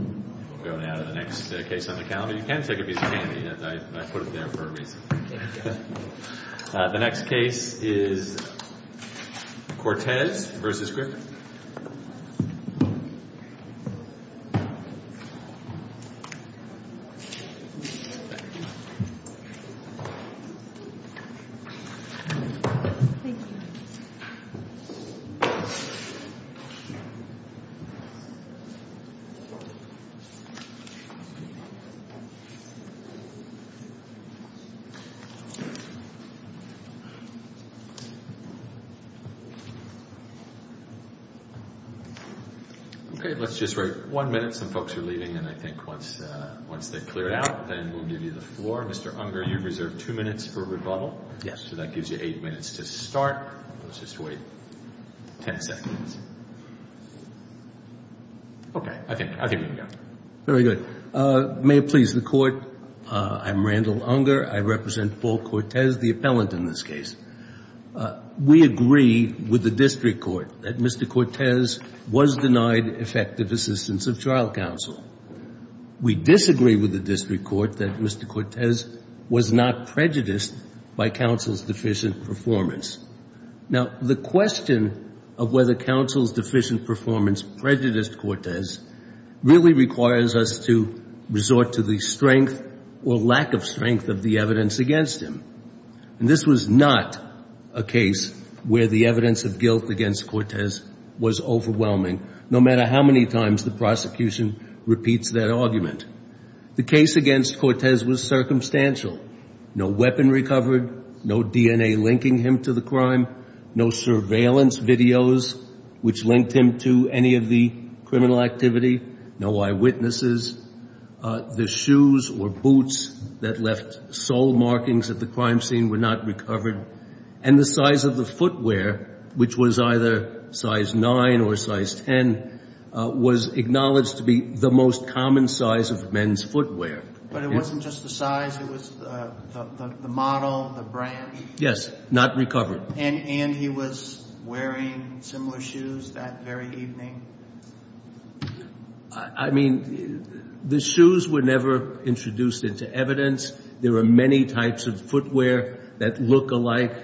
We'll go now to the next case on the calendar. You can take a piece of candy. I put it there for a reason. The next case is Cortez v. Griffin. Mr. Unger, you have two minutes for rebuttal. Mr. Unger, I represent Paul Cortez, the appellant in this case. We agree with the district court that Mr. Cortez was denied effective assistance of trial counsel. We disagree with the district court that Mr. Cortez was not prejudiced by counsel's deficient performance. Now, the question of whether counsel's deficient performance prejudiced Cortez really requires us to resort to the strength or lack of strength of the evidence against him. And this was not a case where the evidence of guilt against Cortez was overwhelming, no matter how many times the prosecution repeats that argument. The case against Cortez was circumstantial. No weapon recovered, no DNA linking him to the crime, no surveillance videos which linked him to any of the criminal activity, no eyewitnesses. The shoes or boots that left sole markings at the crime scene were not recovered. And the size of the footwear, which was either size 9 or size 10, was acknowledged to be the most common size of men's footwear. But it wasn't just the size. It was the model, the brand. Yes, not recovered. And he was wearing similar shoes that very evening? I mean, the shoes were never introduced into evidence. There are many types of footwear that look alike.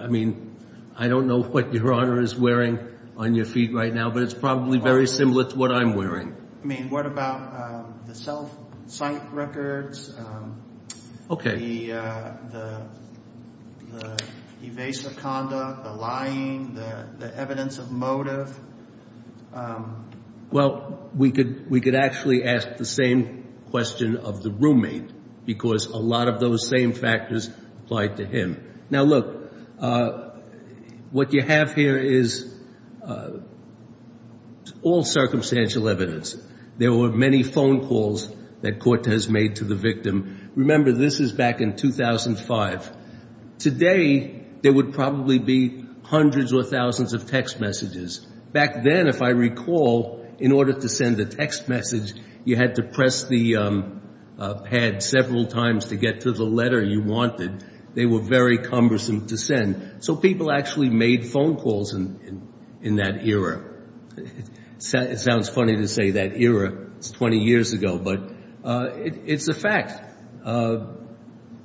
I mean, I don't know what Your Honor is wearing on your feet right now, but it's probably very similar to what I'm wearing. I mean, what about the self-cite records? Okay. The evasive conduct, the lying, the evidence of motive? Well, we could actually ask the same question of the roommate because a lot of those same factors applied to him. Now, look, what you have here is all circumstantial evidence. There were many phone calls that Cortez made to the victim. Remember, this is back in 2005. Today, there would probably be hundreds or thousands of text messages. Back then, if I recall, in order to send a text message, you had to press the pad several times to get to the letter you wanted. They were very cumbersome to send. So people actually made phone calls in that era. It sounds funny to say that era. It's 20 years ago, but it's a fact.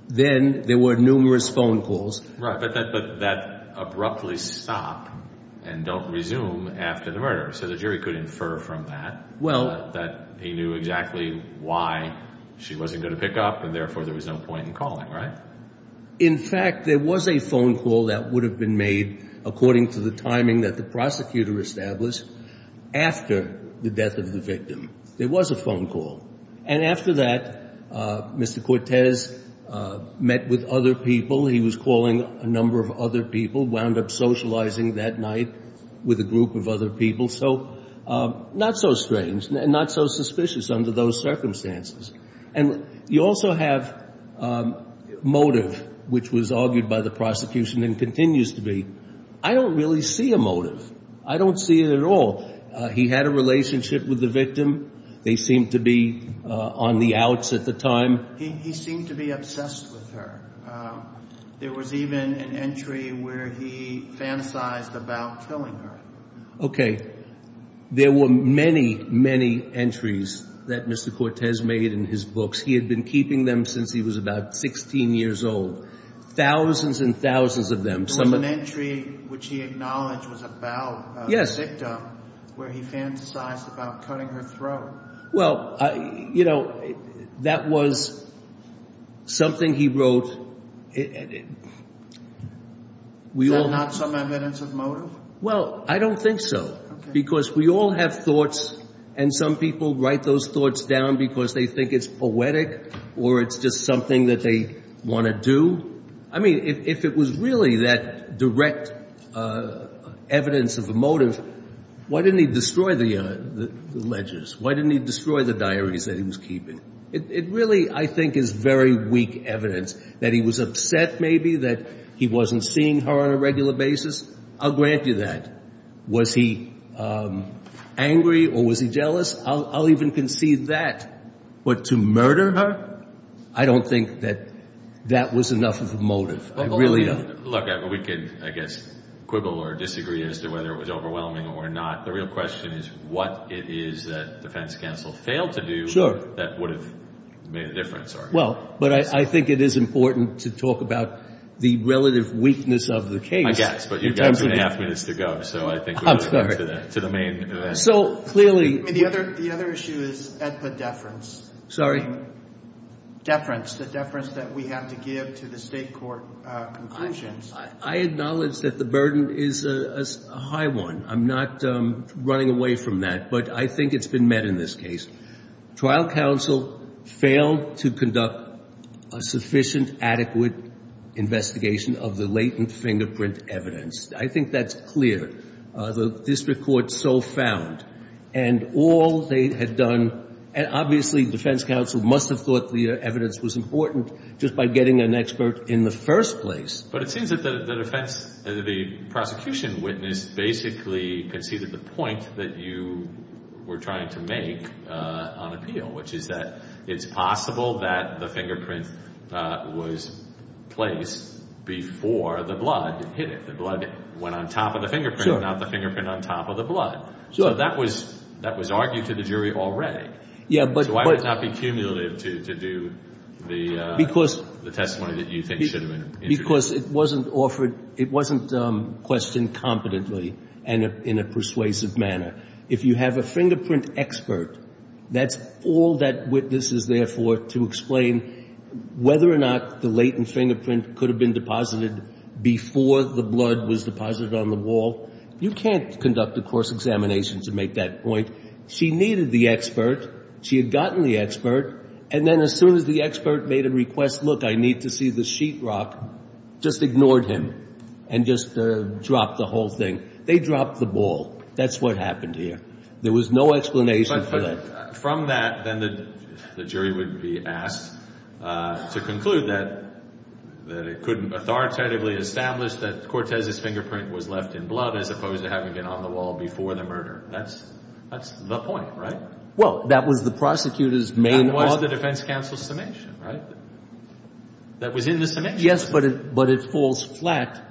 Then there were numerous phone calls. Right, but that abruptly stopped and don't resume after the murder. So the jury could infer from that that he knew exactly why she wasn't going to pick up and, therefore, there was no point in calling, right? Now, in fact, there was a phone call that would have been made, according to the timing that the prosecutor established, after the death of the victim. There was a phone call. And after that, Mr. Cortez met with other people. He was calling a number of other people, wound up socializing that night with a group of other people. So not so strange and not so suspicious under those circumstances. And you also have motive, which was argued by the prosecution and continues to be. I don't really see a motive. I don't see it at all. He had a relationship with the victim. They seemed to be on the outs at the time. He seemed to be obsessed with her. There was even an entry where he fantasized about killing her. Okay. There were many, many entries that Mr. Cortez made in his books. He had been keeping them since he was about 16 years old. Thousands and thousands of them. There was an entry which he acknowledged was about a victim where he fantasized about cutting her throat. Well, you know, that was something he wrote. Is that not some evidence of motive? Well, I don't think so. Because we all have thoughts, and some people write those thoughts down because they think it's poetic or it's just something that they want to do. I mean, if it was really that direct evidence of a motive, why didn't he destroy the ledgers? Why didn't he destroy the diaries that he was keeping? It really, I think, is very weak evidence that he was upset maybe that he wasn't seeing her on a regular basis. I'll grant you that. Was he angry or was he jealous? I'll even concede that. What, to murder her? I don't think that that was enough of a motive. I really don't. Look, we could, I guess, quibble or disagree as to whether it was overwhelming or not. The real question is what it is that defense counsel failed to do that would have made a difference. Well, but I think it is important to talk about the relative weakness of the case. I guess, but you've got two and a half minutes to go, so I think we're going to go to the main event. So, clearly. The other issue is EDPA deference. Sorry? Deference, the deference that we have to give to the State court conclusions. I acknowledge that the burden is a high one. I'm not running away from that, but I think it's been met in this case. Trial counsel failed to conduct a sufficient, adequate investigation of the latent fingerprint evidence. I think that's clear. The district court so found. And all they had done, and obviously defense counsel must have thought the evidence was important just by getting an expert in the first place. But it seems that the prosecution witness basically conceded the point that you were trying to make on appeal, which is that it's possible that the fingerprint was placed before the blood hit it. The blood went on top of the fingerprint, not the fingerprint on top of the blood. So that was argued to the jury already. So why would it not be cumulative to do the testimony that you think should have been introduced? Because it wasn't offered, it wasn't questioned competently in a persuasive manner. If you have a fingerprint expert, that's all that witness is there for to explain whether or not the latent fingerprint could have been deposited before the blood was deposited on the wall. You can't conduct a course examination to make that point. She needed the expert. She had gotten the expert. And then as soon as the expert made a request, look, I need to see the sheetrock, just ignored him and just dropped the whole thing. They dropped the ball. That's what happened here. There was no explanation for that. From that, then the jury would be asked to conclude that it couldn't authoritatively establish that Cortez's fingerprint was left in blood as opposed to having been on the wall before the murder. That's the point, right? Well, that was the prosecutor's main point. That was the defense counsel's summation, right? That was in the summation. Yes, but it falls flat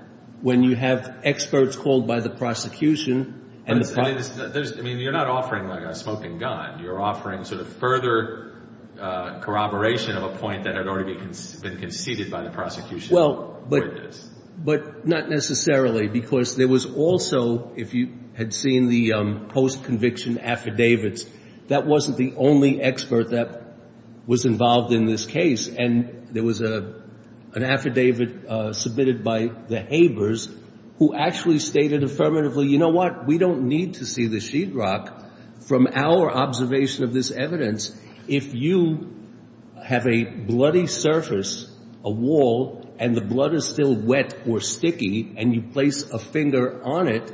when you have experts called by the prosecution. I mean, you're not offering like a smoking gun. You're offering sort of further corroboration of a point that had already been conceded by the prosecution. Well, but not necessarily, because there was also, if you had seen the post-conviction affidavits, that wasn't the only expert that was involved in this case. And there was an affidavit submitted by the Habers who actually stated affirmatively, you know what? We don't need to see the sheetrock. From our observation of this evidence, if you have a bloody surface, a wall, and the blood is still wet or sticky, and you place a finger on it,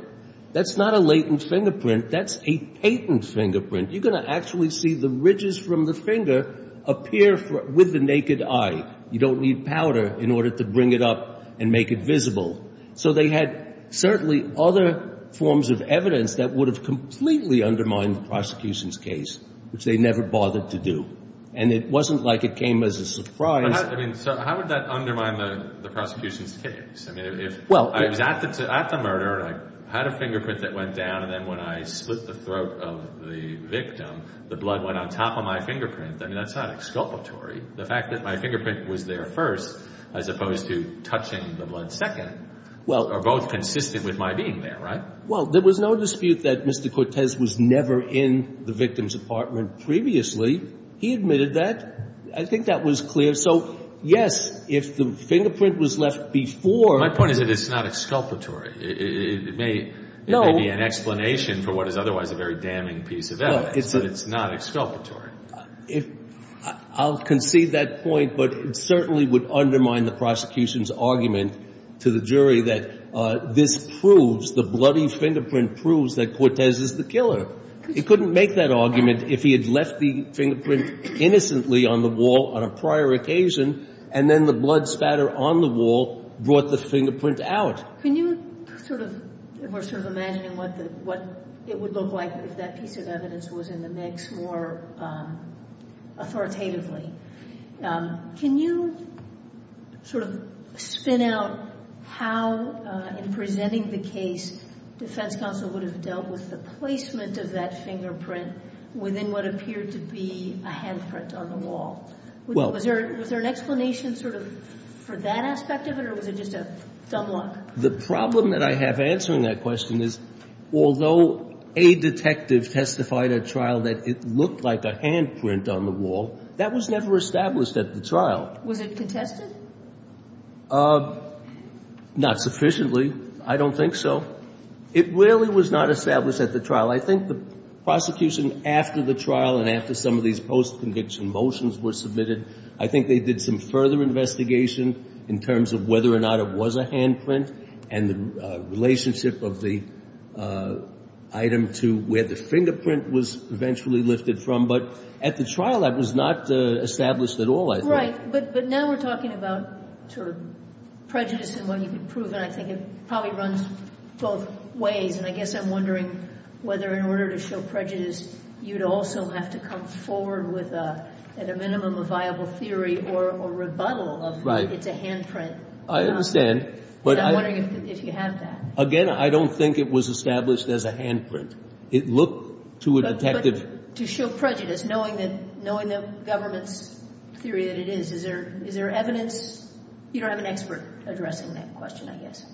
that's not a latent fingerprint. That's a patent fingerprint. You're going to actually see the ridges from the finger appear with the naked eye. You don't need powder in order to bring it up and make it visible. So they had certainly other forms of evidence that would have completely undermined the prosecution's case, which they never bothered to do. And it wasn't like it came as a surprise. I mean, so how would that undermine the prosecution's case? I mean, if I was at the murder and I had a fingerprint that went down, and then when I split the throat of the victim, the blood went on top of my fingerprint, I mean, that's not exculpatory. The fact that my fingerprint was there first, as opposed to touching the blood second, are both consistent with my being there, right? Well, there was no dispute that Mr. Cortez was never in the victim's apartment previously. He admitted that. I think that was clear. So, yes, if the fingerprint was left before. My point is that it's not exculpatory. It may be an explanation for what is otherwise a very damning piece of evidence, but it's not exculpatory. I'll concede that point, but it certainly would undermine the prosecution's argument to the jury that this proves, the bloody fingerprint proves that Cortez is the killer. He couldn't make that argument if he had left the fingerprint innocently on the wall on a prior occasion and then the blood spatter on the wall brought the fingerprint out. Can you sort of, if we're sort of imagining what it would look like if that piece of evidence was in the mix more authoritatively, can you sort of spin out how, in presenting the case, defense counsel would have dealt with the placement of that fingerprint within what appeared to be a handprint on the wall? Was there an explanation sort of for that aspect of it, or was it just a dumb luck? The problem that I have answering that question is, although a detective testified at trial that it looked like a handprint on the wall, that was never established at the trial. Was it contested? Not sufficiently. I don't think so. It really was not established at the trial. I think the prosecution, after the trial and after some of these post-conviction motions were submitted, I think they did some further investigation in terms of whether or not it was a handprint and the relationship of the item to where the fingerprint was eventually lifted from. But at the trial, that was not established at all, I think. Right. But now we're talking about sort of prejudice and what you can prove, and I think it probably runs both ways. And I guess I'm wondering whether in order to show prejudice, you'd also have to come forward with, at a minimum, a viable theory or rebuttal of it's a handprint. Right. I understand. But I'm wondering if you have that. Again, I don't think it was established as a handprint. It looked to a detective. But to show prejudice, knowing the government's theory that it is, is there evidence? You don't have an expert addressing that question, I guess.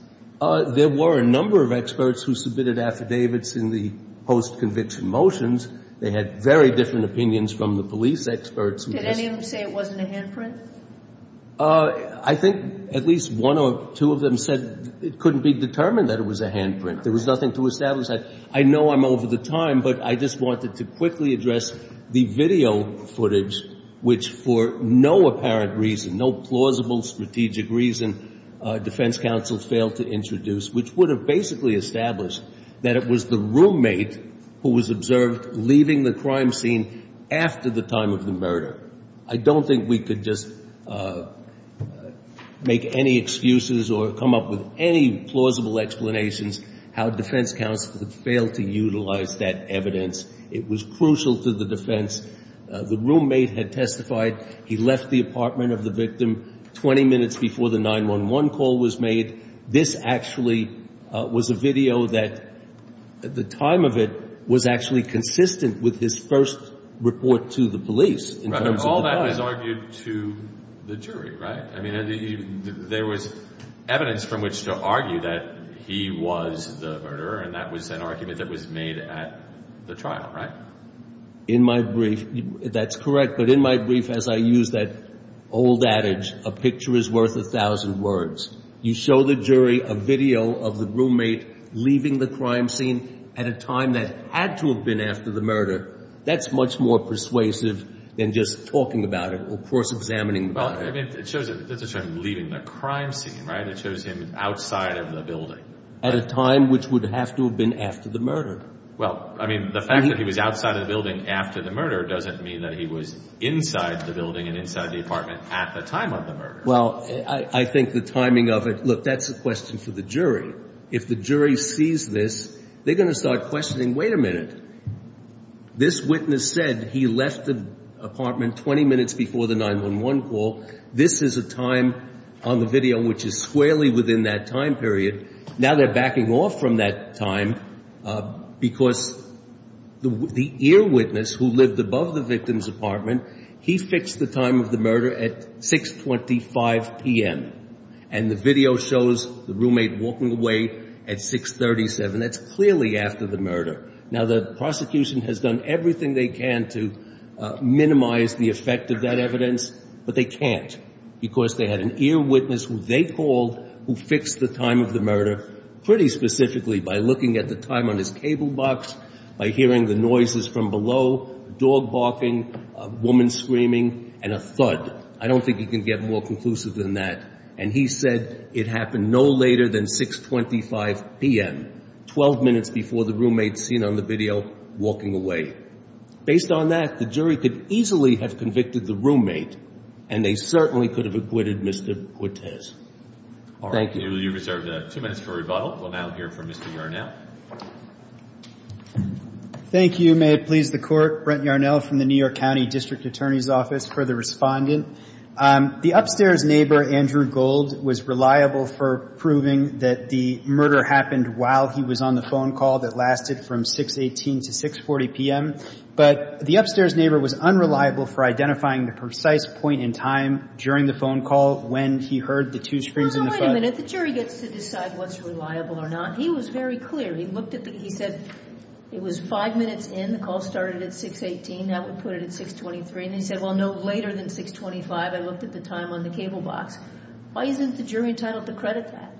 There were a number of experts who submitted affidavits in the post-conviction motions. They had very different opinions from the police experts. Did any of them say it wasn't a handprint? I think at least one or two of them said it couldn't be determined that it was a handprint. There was nothing to establish that. I know I'm over the time, but I just wanted to quickly address the video footage, which for no apparent reason, no plausible strategic reason, defense counsel failed to introduce, which would have basically established that it was the roommate who was observed leaving the crime scene after the time of the murder. I don't think we could just make any excuses or come up with any plausible explanations how defense counsel had failed to utilize that evidence. It was crucial to the defense. The roommate had testified. He left the apartment of the victim 20 minutes before the 911 call was made. This actually was a video that at the time of it was actually consistent with his first report to the police. All that was argued to the jury, right? I mean, there was evidence from which to argue that he was the murderer, and that was an argument that was made at the trial, right? In my brief, that's correct, but in my brief, as I use that old adage, a picture is worth a thousand words. You show the jury a video of the roommate leaving the crime scene at a time that had to have been after the murder, that's much more persuasive than just talking about it or course-examining about it. Well, I mean, it shows that he was leaving the crime scene, right? It shows him outside of the building. At a time which would have to have been after the murder. Well, I mean, the fact that he was outside of the building after the murder doesn't mean that he was inside the building and inside the apartment at the time of the murder. Well, I think the timing of it, look, that's a question for the jury. If the jury sees this, they're going to start questioning, wait a minute, this witness said he left the apartment 20 minutes before the 911 call. This is a time on the video which is squarely within that time period. Now they're backing off from that time because the ear witness who lived above the victim's apartment, he fixed the time of the murder at 6.25 p.m. And the video shows the roommate walking away at 6.37. That's clearly after the murder. Now, the prosecution has done everything they can to minimize the effect of that evidence, but they can't because they had an ear witness who they called who fixed the time of the murder pretty specifically by looking at the time on his cable box, by hearing the noises from below, dog barking, woman screaming, and a thud. I don't think you can get more conclusive than that. And he said it happened no later than 6.25 p.m., 12 minutes before the roommate seen on the video walking away. Based on that, the jury could easily have convicted the roommate, and they certainly could have acquitted Mr. Guitez. Thank you. You've reserved two minutes for rebuttal. We'll now hear from Mr. Yarnell. Thank you. May it please the Court. Brent Yarnell from the New York County District Attorney's Office for the respondent. The upstairs neighbor, Andrew Gold, was reliable for proving that the murder happened while he was on the phone call that lasted from 6.18 to 6.40 p.m., but the upstairs neighbor was unreliable for identifying the precise point in time during the phone call when he heard the two screams and the thud. Well, wait a minute. The jury gets to decide what's reliable or not. He was very clear. He said it was five minutes in. The call started at 6.18. Now we put it at 6.23. And he said, well, no later than 6.25. I looked at the time on the cable box. Why isn't the jury entitled to credit that?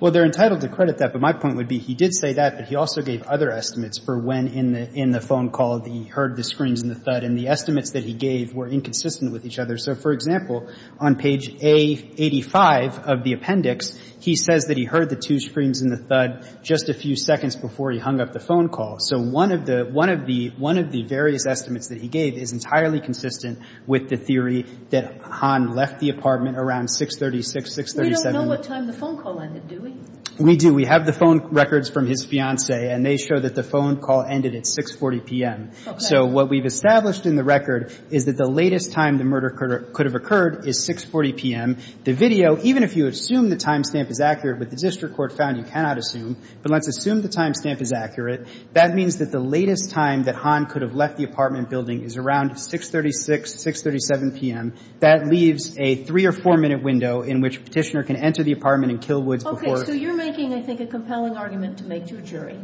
Well, they're entitled to credit that, but my point would be he did say that, but he also gave other estimates for when in the phone call he heard the screams and the thud, and the estimates that he gave were inconsistent with each other. So, for example, on page A85 of the appendix, he says that he heard the two screams and the thud just a few seconds before he hung up the phone call. So one of the various estimates that he gave is entirely consistent with the theory that Hahn left the apartment around 6.36, 6.37. We don't know what time the phone call ended, do we? We do. We have the phone records from his fiancée, and they show that the phone call ended at 6.40 p.m. So what we've established in the record is that the latest time the murder could have occurred is 6.40 p.m. The video, even if you assume the timestamp is accurate, but the district court found you cannot assume, but let's assume the timestamp is accurate, that means that the latest time that Hahn could have left the apartment building is around 6.36, 6.37 p.m. That leaves a three- or four-minute window in which Petitioner can enter the apartment and kill Woods before her. So you're making, I think, a compelling argument to make to a jury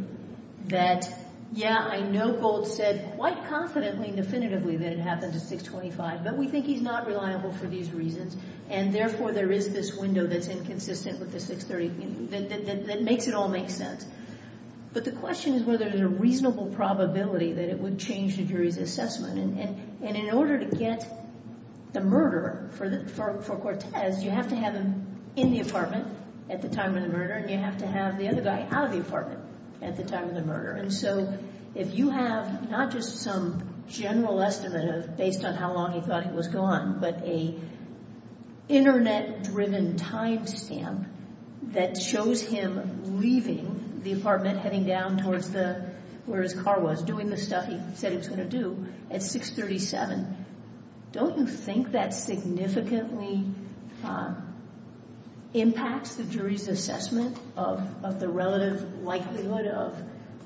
that, yeah, I know Gold said quite confidently and definitively that it happened at 6.25, but we think he's not reliable for these reasons, and therefore there is this window that's inconsistent with the 6.30, that makes it all make sense. But the question is whether there's a reasonable probability that it would change the jury's assessment. And in order to get the murderer for Cortez, you have to have him in the apartment at the time of the murder, and you have to have the other guy out of the apartment at the time of the murder. And so if you have not just some general estimate of, based on how long he thought he was gone, but an Internet-driven timestamp that shows him leaving the apartment, heading down towards where his car was, doing the stuff he said he was going to do, at 6.37, don't you think that significantly impacts the jury's assessment of the relative likelihood of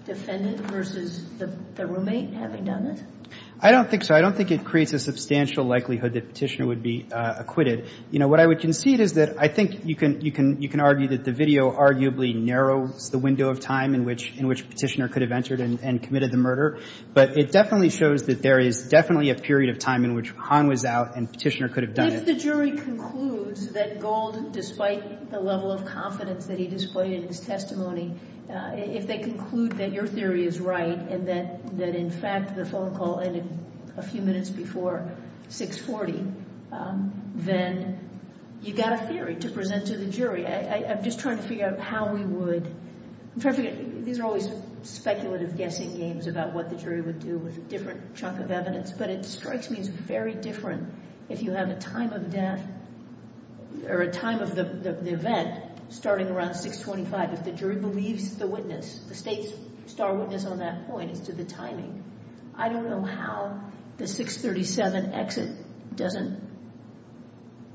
defendant versus the roommate having done it? I don't think so. I don't think it creates a substantial likelihood that Petitioner would be acquitted. You know, what I would concede is that I think you can argue that the video arguably narrows the window of time in which Petitioner could have entered and committed the murder. But it definitely shows that there is definitely a period of time in which Hahn was out and Petitioner could have done it. If the jury concludes that Gold, despite the level of confidence that he displayed in his testimony, if they conclude that your theory is right and that, in fact, the phone call ended a few minutes before 6.40, then you've got a theory to present to the jury. I'm just trying to figure out how we would. I'm trying to figure out. These are always speculative guessing games about what the jury would do with a different chunk of evidence. But it strikes me as very different if you have a time of death or a time of the event starting around 6.25 if the jury believes the witness, the State's star witness on that point as to the timing. I don't know how the 6.37 exit doesn't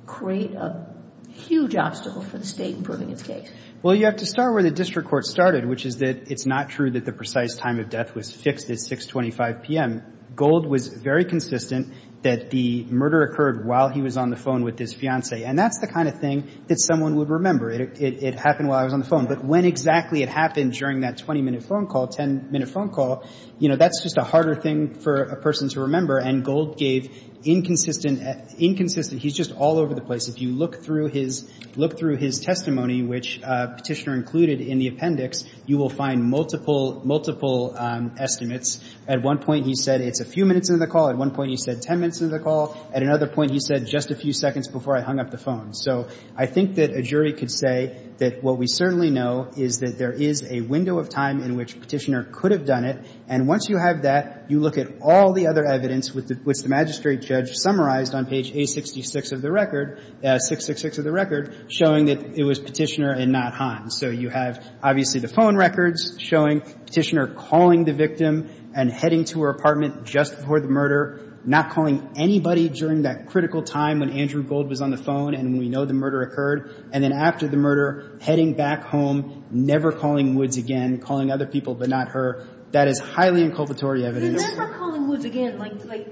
create a huge obstacle for the State in proving its case. Well, you have to start where the district court started, which is that it's not true that the precise time of death was fixed at 6.25 p.m. Gold was very consistent that the murder occurred while he was on the phone with his fiancée. And that's the kind of thing that someone would remember. It happened while I was on the phone. But when exactly it happened during that 20-minute phone call, 10-minute phone call, you know, that's just a harder thing for a person to remember. And Gold gave inconsistent – inconsistent – he's just all over the place. If you look through his – look through his testimony, which Petitioner included in the appendix, you will find multiple – multiple estimates. At one point, he said it's a few minutes into the call. At one point, he said 10 minutes into the call. At another point, he said just a few seconds before I hung up the phone. So I think that a jury could say that what we certainly know is that there is a window of time in which Petitioner could have done it. And once you have that, you look at all the other evidence, which the magistrate and the judge summarized on page 866 of the record – 666 of the record – showing that it was Petitioner and not Hans. So you have, obviously, the phone records showing Petitioner calling the victim and heading to her apartment just before the murder, not calling anybody during that critical time when Andrew Gold was on the phone and we know the murder occurred, and then after the murder, heading back home, never calling Woods again, calling other people but not her. That is highly inculpatory evidence. But remember calling Woods again. Like,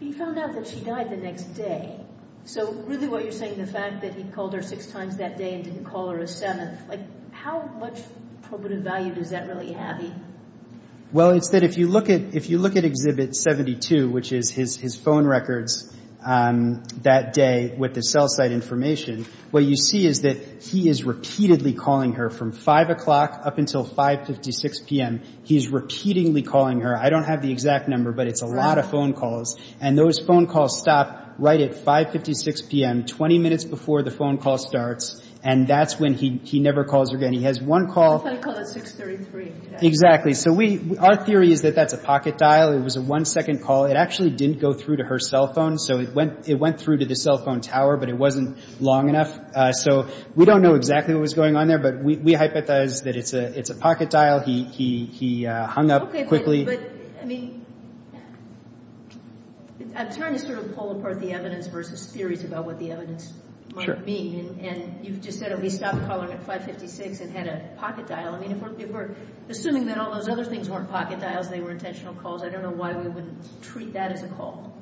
he found out that she died the next day. So really what you're saying, the fact that he called her six times that day and didn't call her a seventh, like how much probative value does that really have? Well, it's that if you look at Exhibit 72, which is his phone records that day with the cell site information, what you see is that he is repeatedly calling her from 5 o'clock up until 5.56 p.m. He's repeatedly calling her. I don't have the exact number, but it's a lot of phone calls. And those phone calls stop right at 5.56 p.m., 20 minutes before the phone call starts, and that's when he never calls her again. He has one call. I thought he called at 6.33. Exactly. So our theory is that that's a pocket dial. It was a one-second call. It actually didn't go through to her cell phone, so it went through to the cell phone tower, but it wasn't long enough. So we don't know exactly what was going on there, but we hypothesize that it's a pocket dial. He hung up quickly. Okay, but, I mean, I'm trying to sort of pull apart the evidence versus theories about what the evidence might mean. And you've just said that he stopped calling at 5.56 and had a pocket dial. I mean, if we're assuming that all those other things weren't pocket dials, they were intentional calls, I don't know why we wouldn't treat that as a call.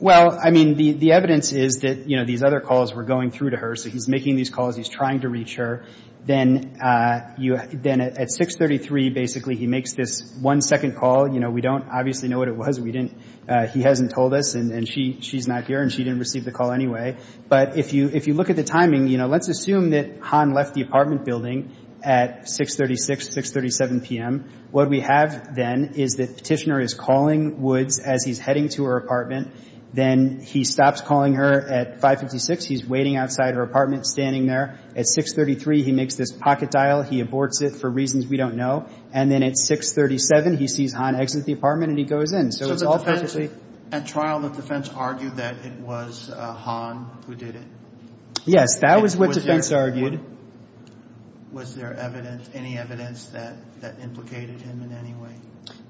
Well, I mean, the evidence is that, you know, these other calls were going through to her, so he's making these calls. He's trying to reach her. Then at 6.33, basically, he makes this one-second call. You know, we don't obviously know what it was. He hasn't told us, and she's not here, and she didn't receive the call anyway. But if you look at the timing, you know, let's assume that Han left the apartment building at 6.36, 6.37 p.m. What we have then is that Petitioner is calling Woods as he's heading to her apartment. Then he stops calling her at 5.56. He's waiting outside her apartment, standing there. At 6.33, he makes this pocket dial. He aborts it for reasons we don't know. And then at 6.37, he sees Han exit the apartment, and he goes in. So it's all perfectly ---- So the defense at trial, the defense argued that it was Han who did it? Yes. That was what defense argued. Was there evidence, any evidence that implicated him in any way?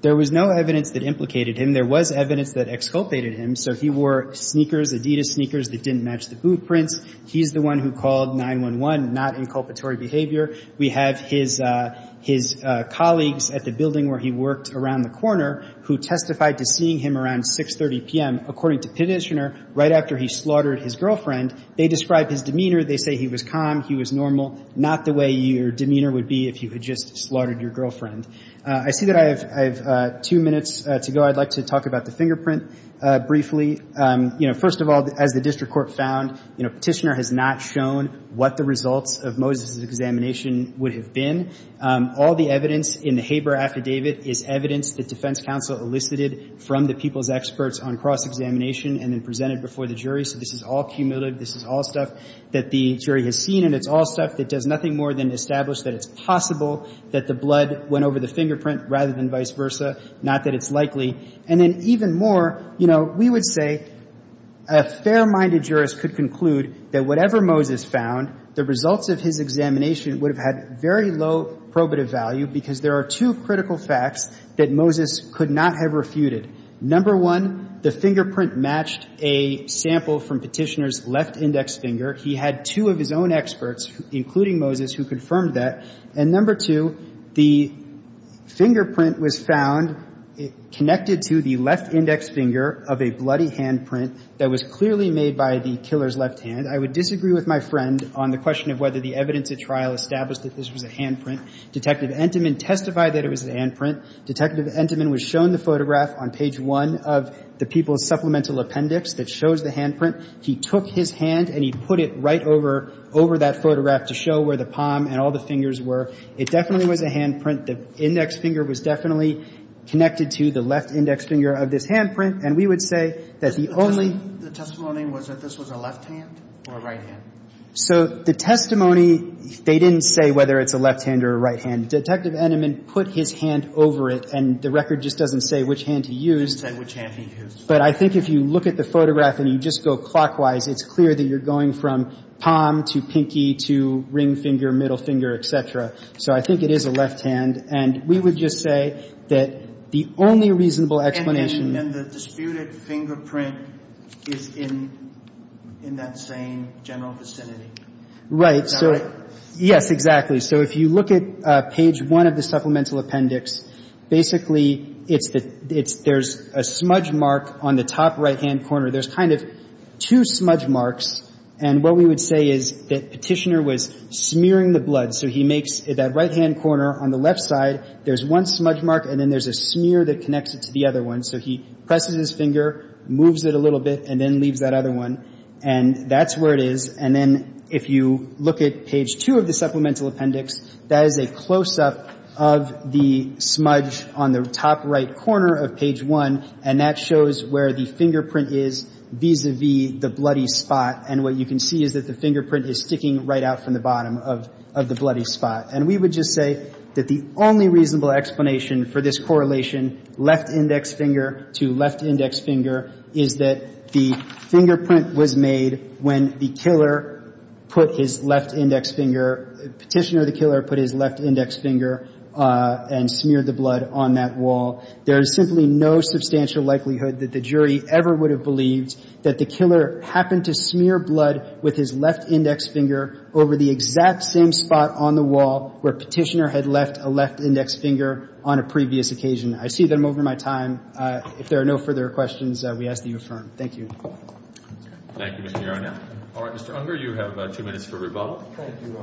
There was no evidence that implicated him. There was evidence that exculpated him. So he wore sneakers, Adidas sneakers that didn't match the blueprints. He's the one who called 911, not inculpatory behavior. We have his colleagues at the building where he worked around the corner who testified to seeing him around 6.30 p.m. According to Petitioner, right after he slaughtered his girlfriend, they described his demeanor. They say he was calm, he was normal, not the way your demeanor would be if you had just slaughtered your girlfriend. I see that I have two minutes to go. I'd like to talk about the fingerprint briefly. First of all, as the district court found, Petitioner has not shown what the results of Moses' examination would have been. All the evidence in the Haber affidavit is evidence that defense counsel elicited from the people's experts on cross-examination and then presented before the jury. So this is all cumulative. This is all stuff that the jury has seen, and it's all stuff that does nothing more than establish that it's possible that the blood went over the fingerprint rather than vice versa, not that it's likely. And then even more, you know, we would say a fair-minded jurist could conclude that whatever Moses found, the results of his examination would have had very low probative value because there are two critical facts that Moses could not have refuted. Number one, the fingerprint matched a sample from Petitioner's left index finger. He had two of his own experts, including Moses, who confirmed that. And number two, the fingerprint was found connected to the left index finger of a bloody handprint that was clearly made by the killer's left hand. I would disagree with my friend on the question of whether the evidence at trial established that this was a handprint. Detective Entenman testified that it was a handprint. Detective Entenman was shown the photograph on page one of the people's supplemental appendix that shows the handprint. He took his hand and he put it right over that photograph to show where the palm and all the fingers were. It definitely was a handprint. The index finger was definitely connected to the left index finger of this handprint. And we would say that the only ---- The testimony was that this was a left hand or a right hand? So the testimony, they didn't say whether it's a left hand or a right hand. Detective Entenman put his hand over it, and the record just doesn't say which hand he used. It doesn't say which hand he used. But I think if you look at the photograph and you just go clockwise, it's clear that you're going from palm to pinky to ring finger, middle finger, et cetera. So I think it is a left hand. And we would just say that the only reasonable explanation ---- And the disputed fingerprint is in that same general vicinity. Right. Is that right? Yes, exactly. So if you look at page one of the supplemental appendix, basically it's the ---- there's a smudge mark on the top right-hand corner. There's kind of two smudge marks. And what we would say is that Petitioner was smearing the blood. So he makes that right-hand corner. On the left side, there's one smudge mark, and then there's a smear that connects it to the other one. So he presses his finger, moves it a little bit, and then leaves that other one. And that's where it is. And then if you look at page two of the supplemental appendix, that is a close-up of the smudge on the top right corner of page one, and that shows where the fingerprint is vis-a-vis the bloody spot. And what you can see is that the fingerprint is sticking right out from the bottom of the bloody spot. And we would just say that the only reasonable explanation for this correlation left-index finger to left-index finger is that the fingerprint was made when the killer put his left-index finger ---- Petitioner or the killer put his left-index finger and smeared the blood on that wall. There is simply no substantial likelihood that the jury ever would have believed that the killer happened to smear blood with his left-index finger over the exact same spot on the wall where Petitioner had left a left-index finger on a previous occasion. I see that I'm over my time. If there are no further questions, we ask that you affirm. Thank you. Thank you, Mr. Yarnell. All right. Mr. Unger, you have two minutes for rebuttal. Thank you, Your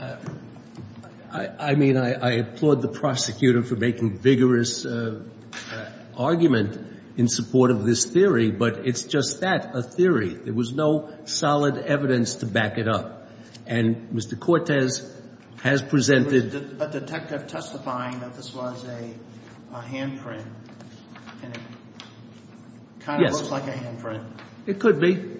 Honor. I mean, I applaud the prosecutor for making vigorous argument in support of this theory, but it's just that, a theory. There was no solid evidence to back it up. And Mr. Cortez has presented ---- But the detective testifying that this was a handprint and it kind of looks like a handprint. It could be.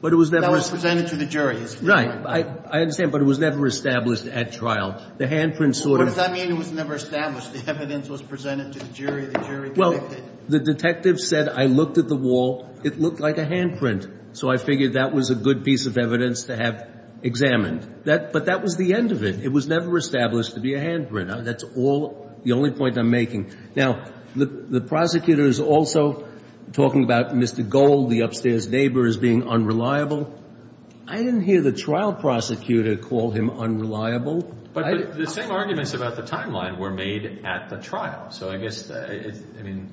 But it was never ---- That was presented to the jury. Right. I understand. But it was never established at trial. The handprint sort of ---- What does that mean, it was never established? The evidence was presented to the jury. The jury liked it. Well, the detective said, I looked at the wall, it looked like a handprint. So I figured that was a good piece of evidence to have examined. But that was the end of it. It was never established to be a handprint. That's all the only point I'm making. Now, the prosecutor is also talking about Mr. Gold, the upstairs neighbor, as being unreliable. I didn't hear the trial prosecutor call him unreliable. But the same arguments about the timeline were made at the trial. So I guess, I mean,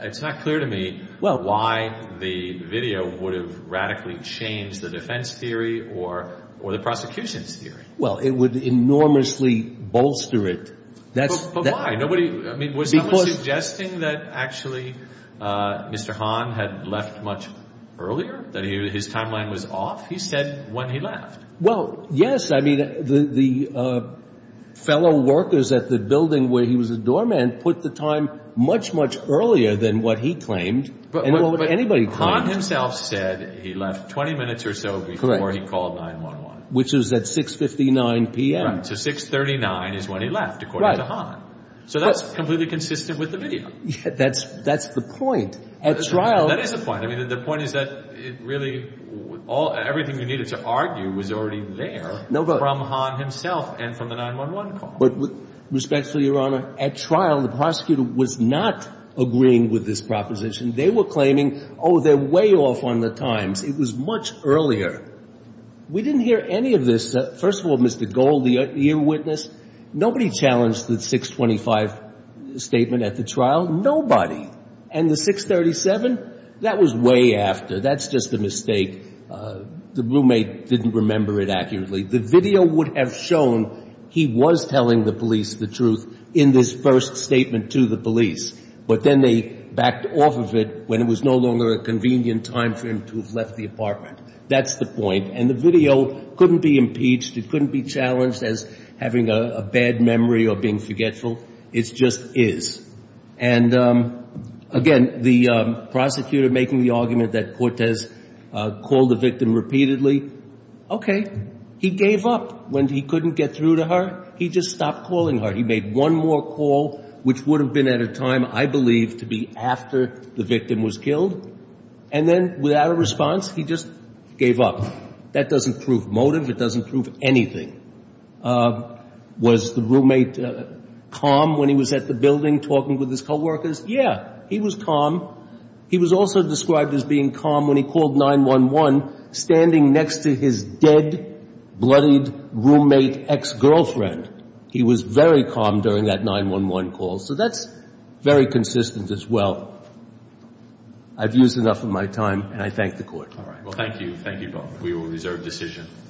it's not clear to me why the video would have radically changed the defense theory or the prosecution's theory. Well, it would enormously bolster it. But why? I mean, was someone suggesting that actually Mr. Hahn had left much earlier, that his timeline was off? He said when he left. Well, yes. I mean, the fellow workers at the building where he was a doorman put the time much, much earlier than what he claimed and what anybody claimed. But Hahn himself said he left 20 minutes or so before he called 911. Which is at 6.59 p.m. Right. So 6.39 is when he left, according to Hahn. Right. So that's completely consistent with the video. That's the point. At trial. That is the point. I mean, the point is that really everything you needed to argue was already there from Hahn himself and from the 911 call. But respectfully, Your Honor, at trial the prosecutor was not agreeing with this proposition. They were claiming, oh, they're way off on the times. It was much earlier. We didn't hear any of this. First of all, Mr. Gold, the ear witness, nobody challenged the 6.25 statement at the trial. Nobody. And the 6.37, that was way after. That's just a mistake. The roommate didn't remember it accurately. The video would have shown he was telling the police the truth in this first statement to the police. But then they backed off of it when it was no longer a convenient time for him to have left the apartment. That's the point. And the video couldn't be impeached. It couldn't be challenged as having a bad memory or being forgetful. It just is. And, again, the prosecutor making the argument that Cortez called the victim repeatedly, okay, he gave up. When he couldn't get through to her, he just stopped calling her. He made one more call, which would have been at a time, I believe, to be after the victim was killed. And then without a response, he just gave up. That doesn't prove motive. It doesn't prove anything. Was the roommate calm when he was at the building talking with his coworkers? Yeah, he was calm. He was also described as being calm when he called 911, standing next to his dead, bloodied roommate ex-girlfriend. He was very calm during that 911 call. So that's very consistent as well. I've used enough of my time, and I thank the Court. All right. Well, thank you. Thank you, Bob. We will reserve decision.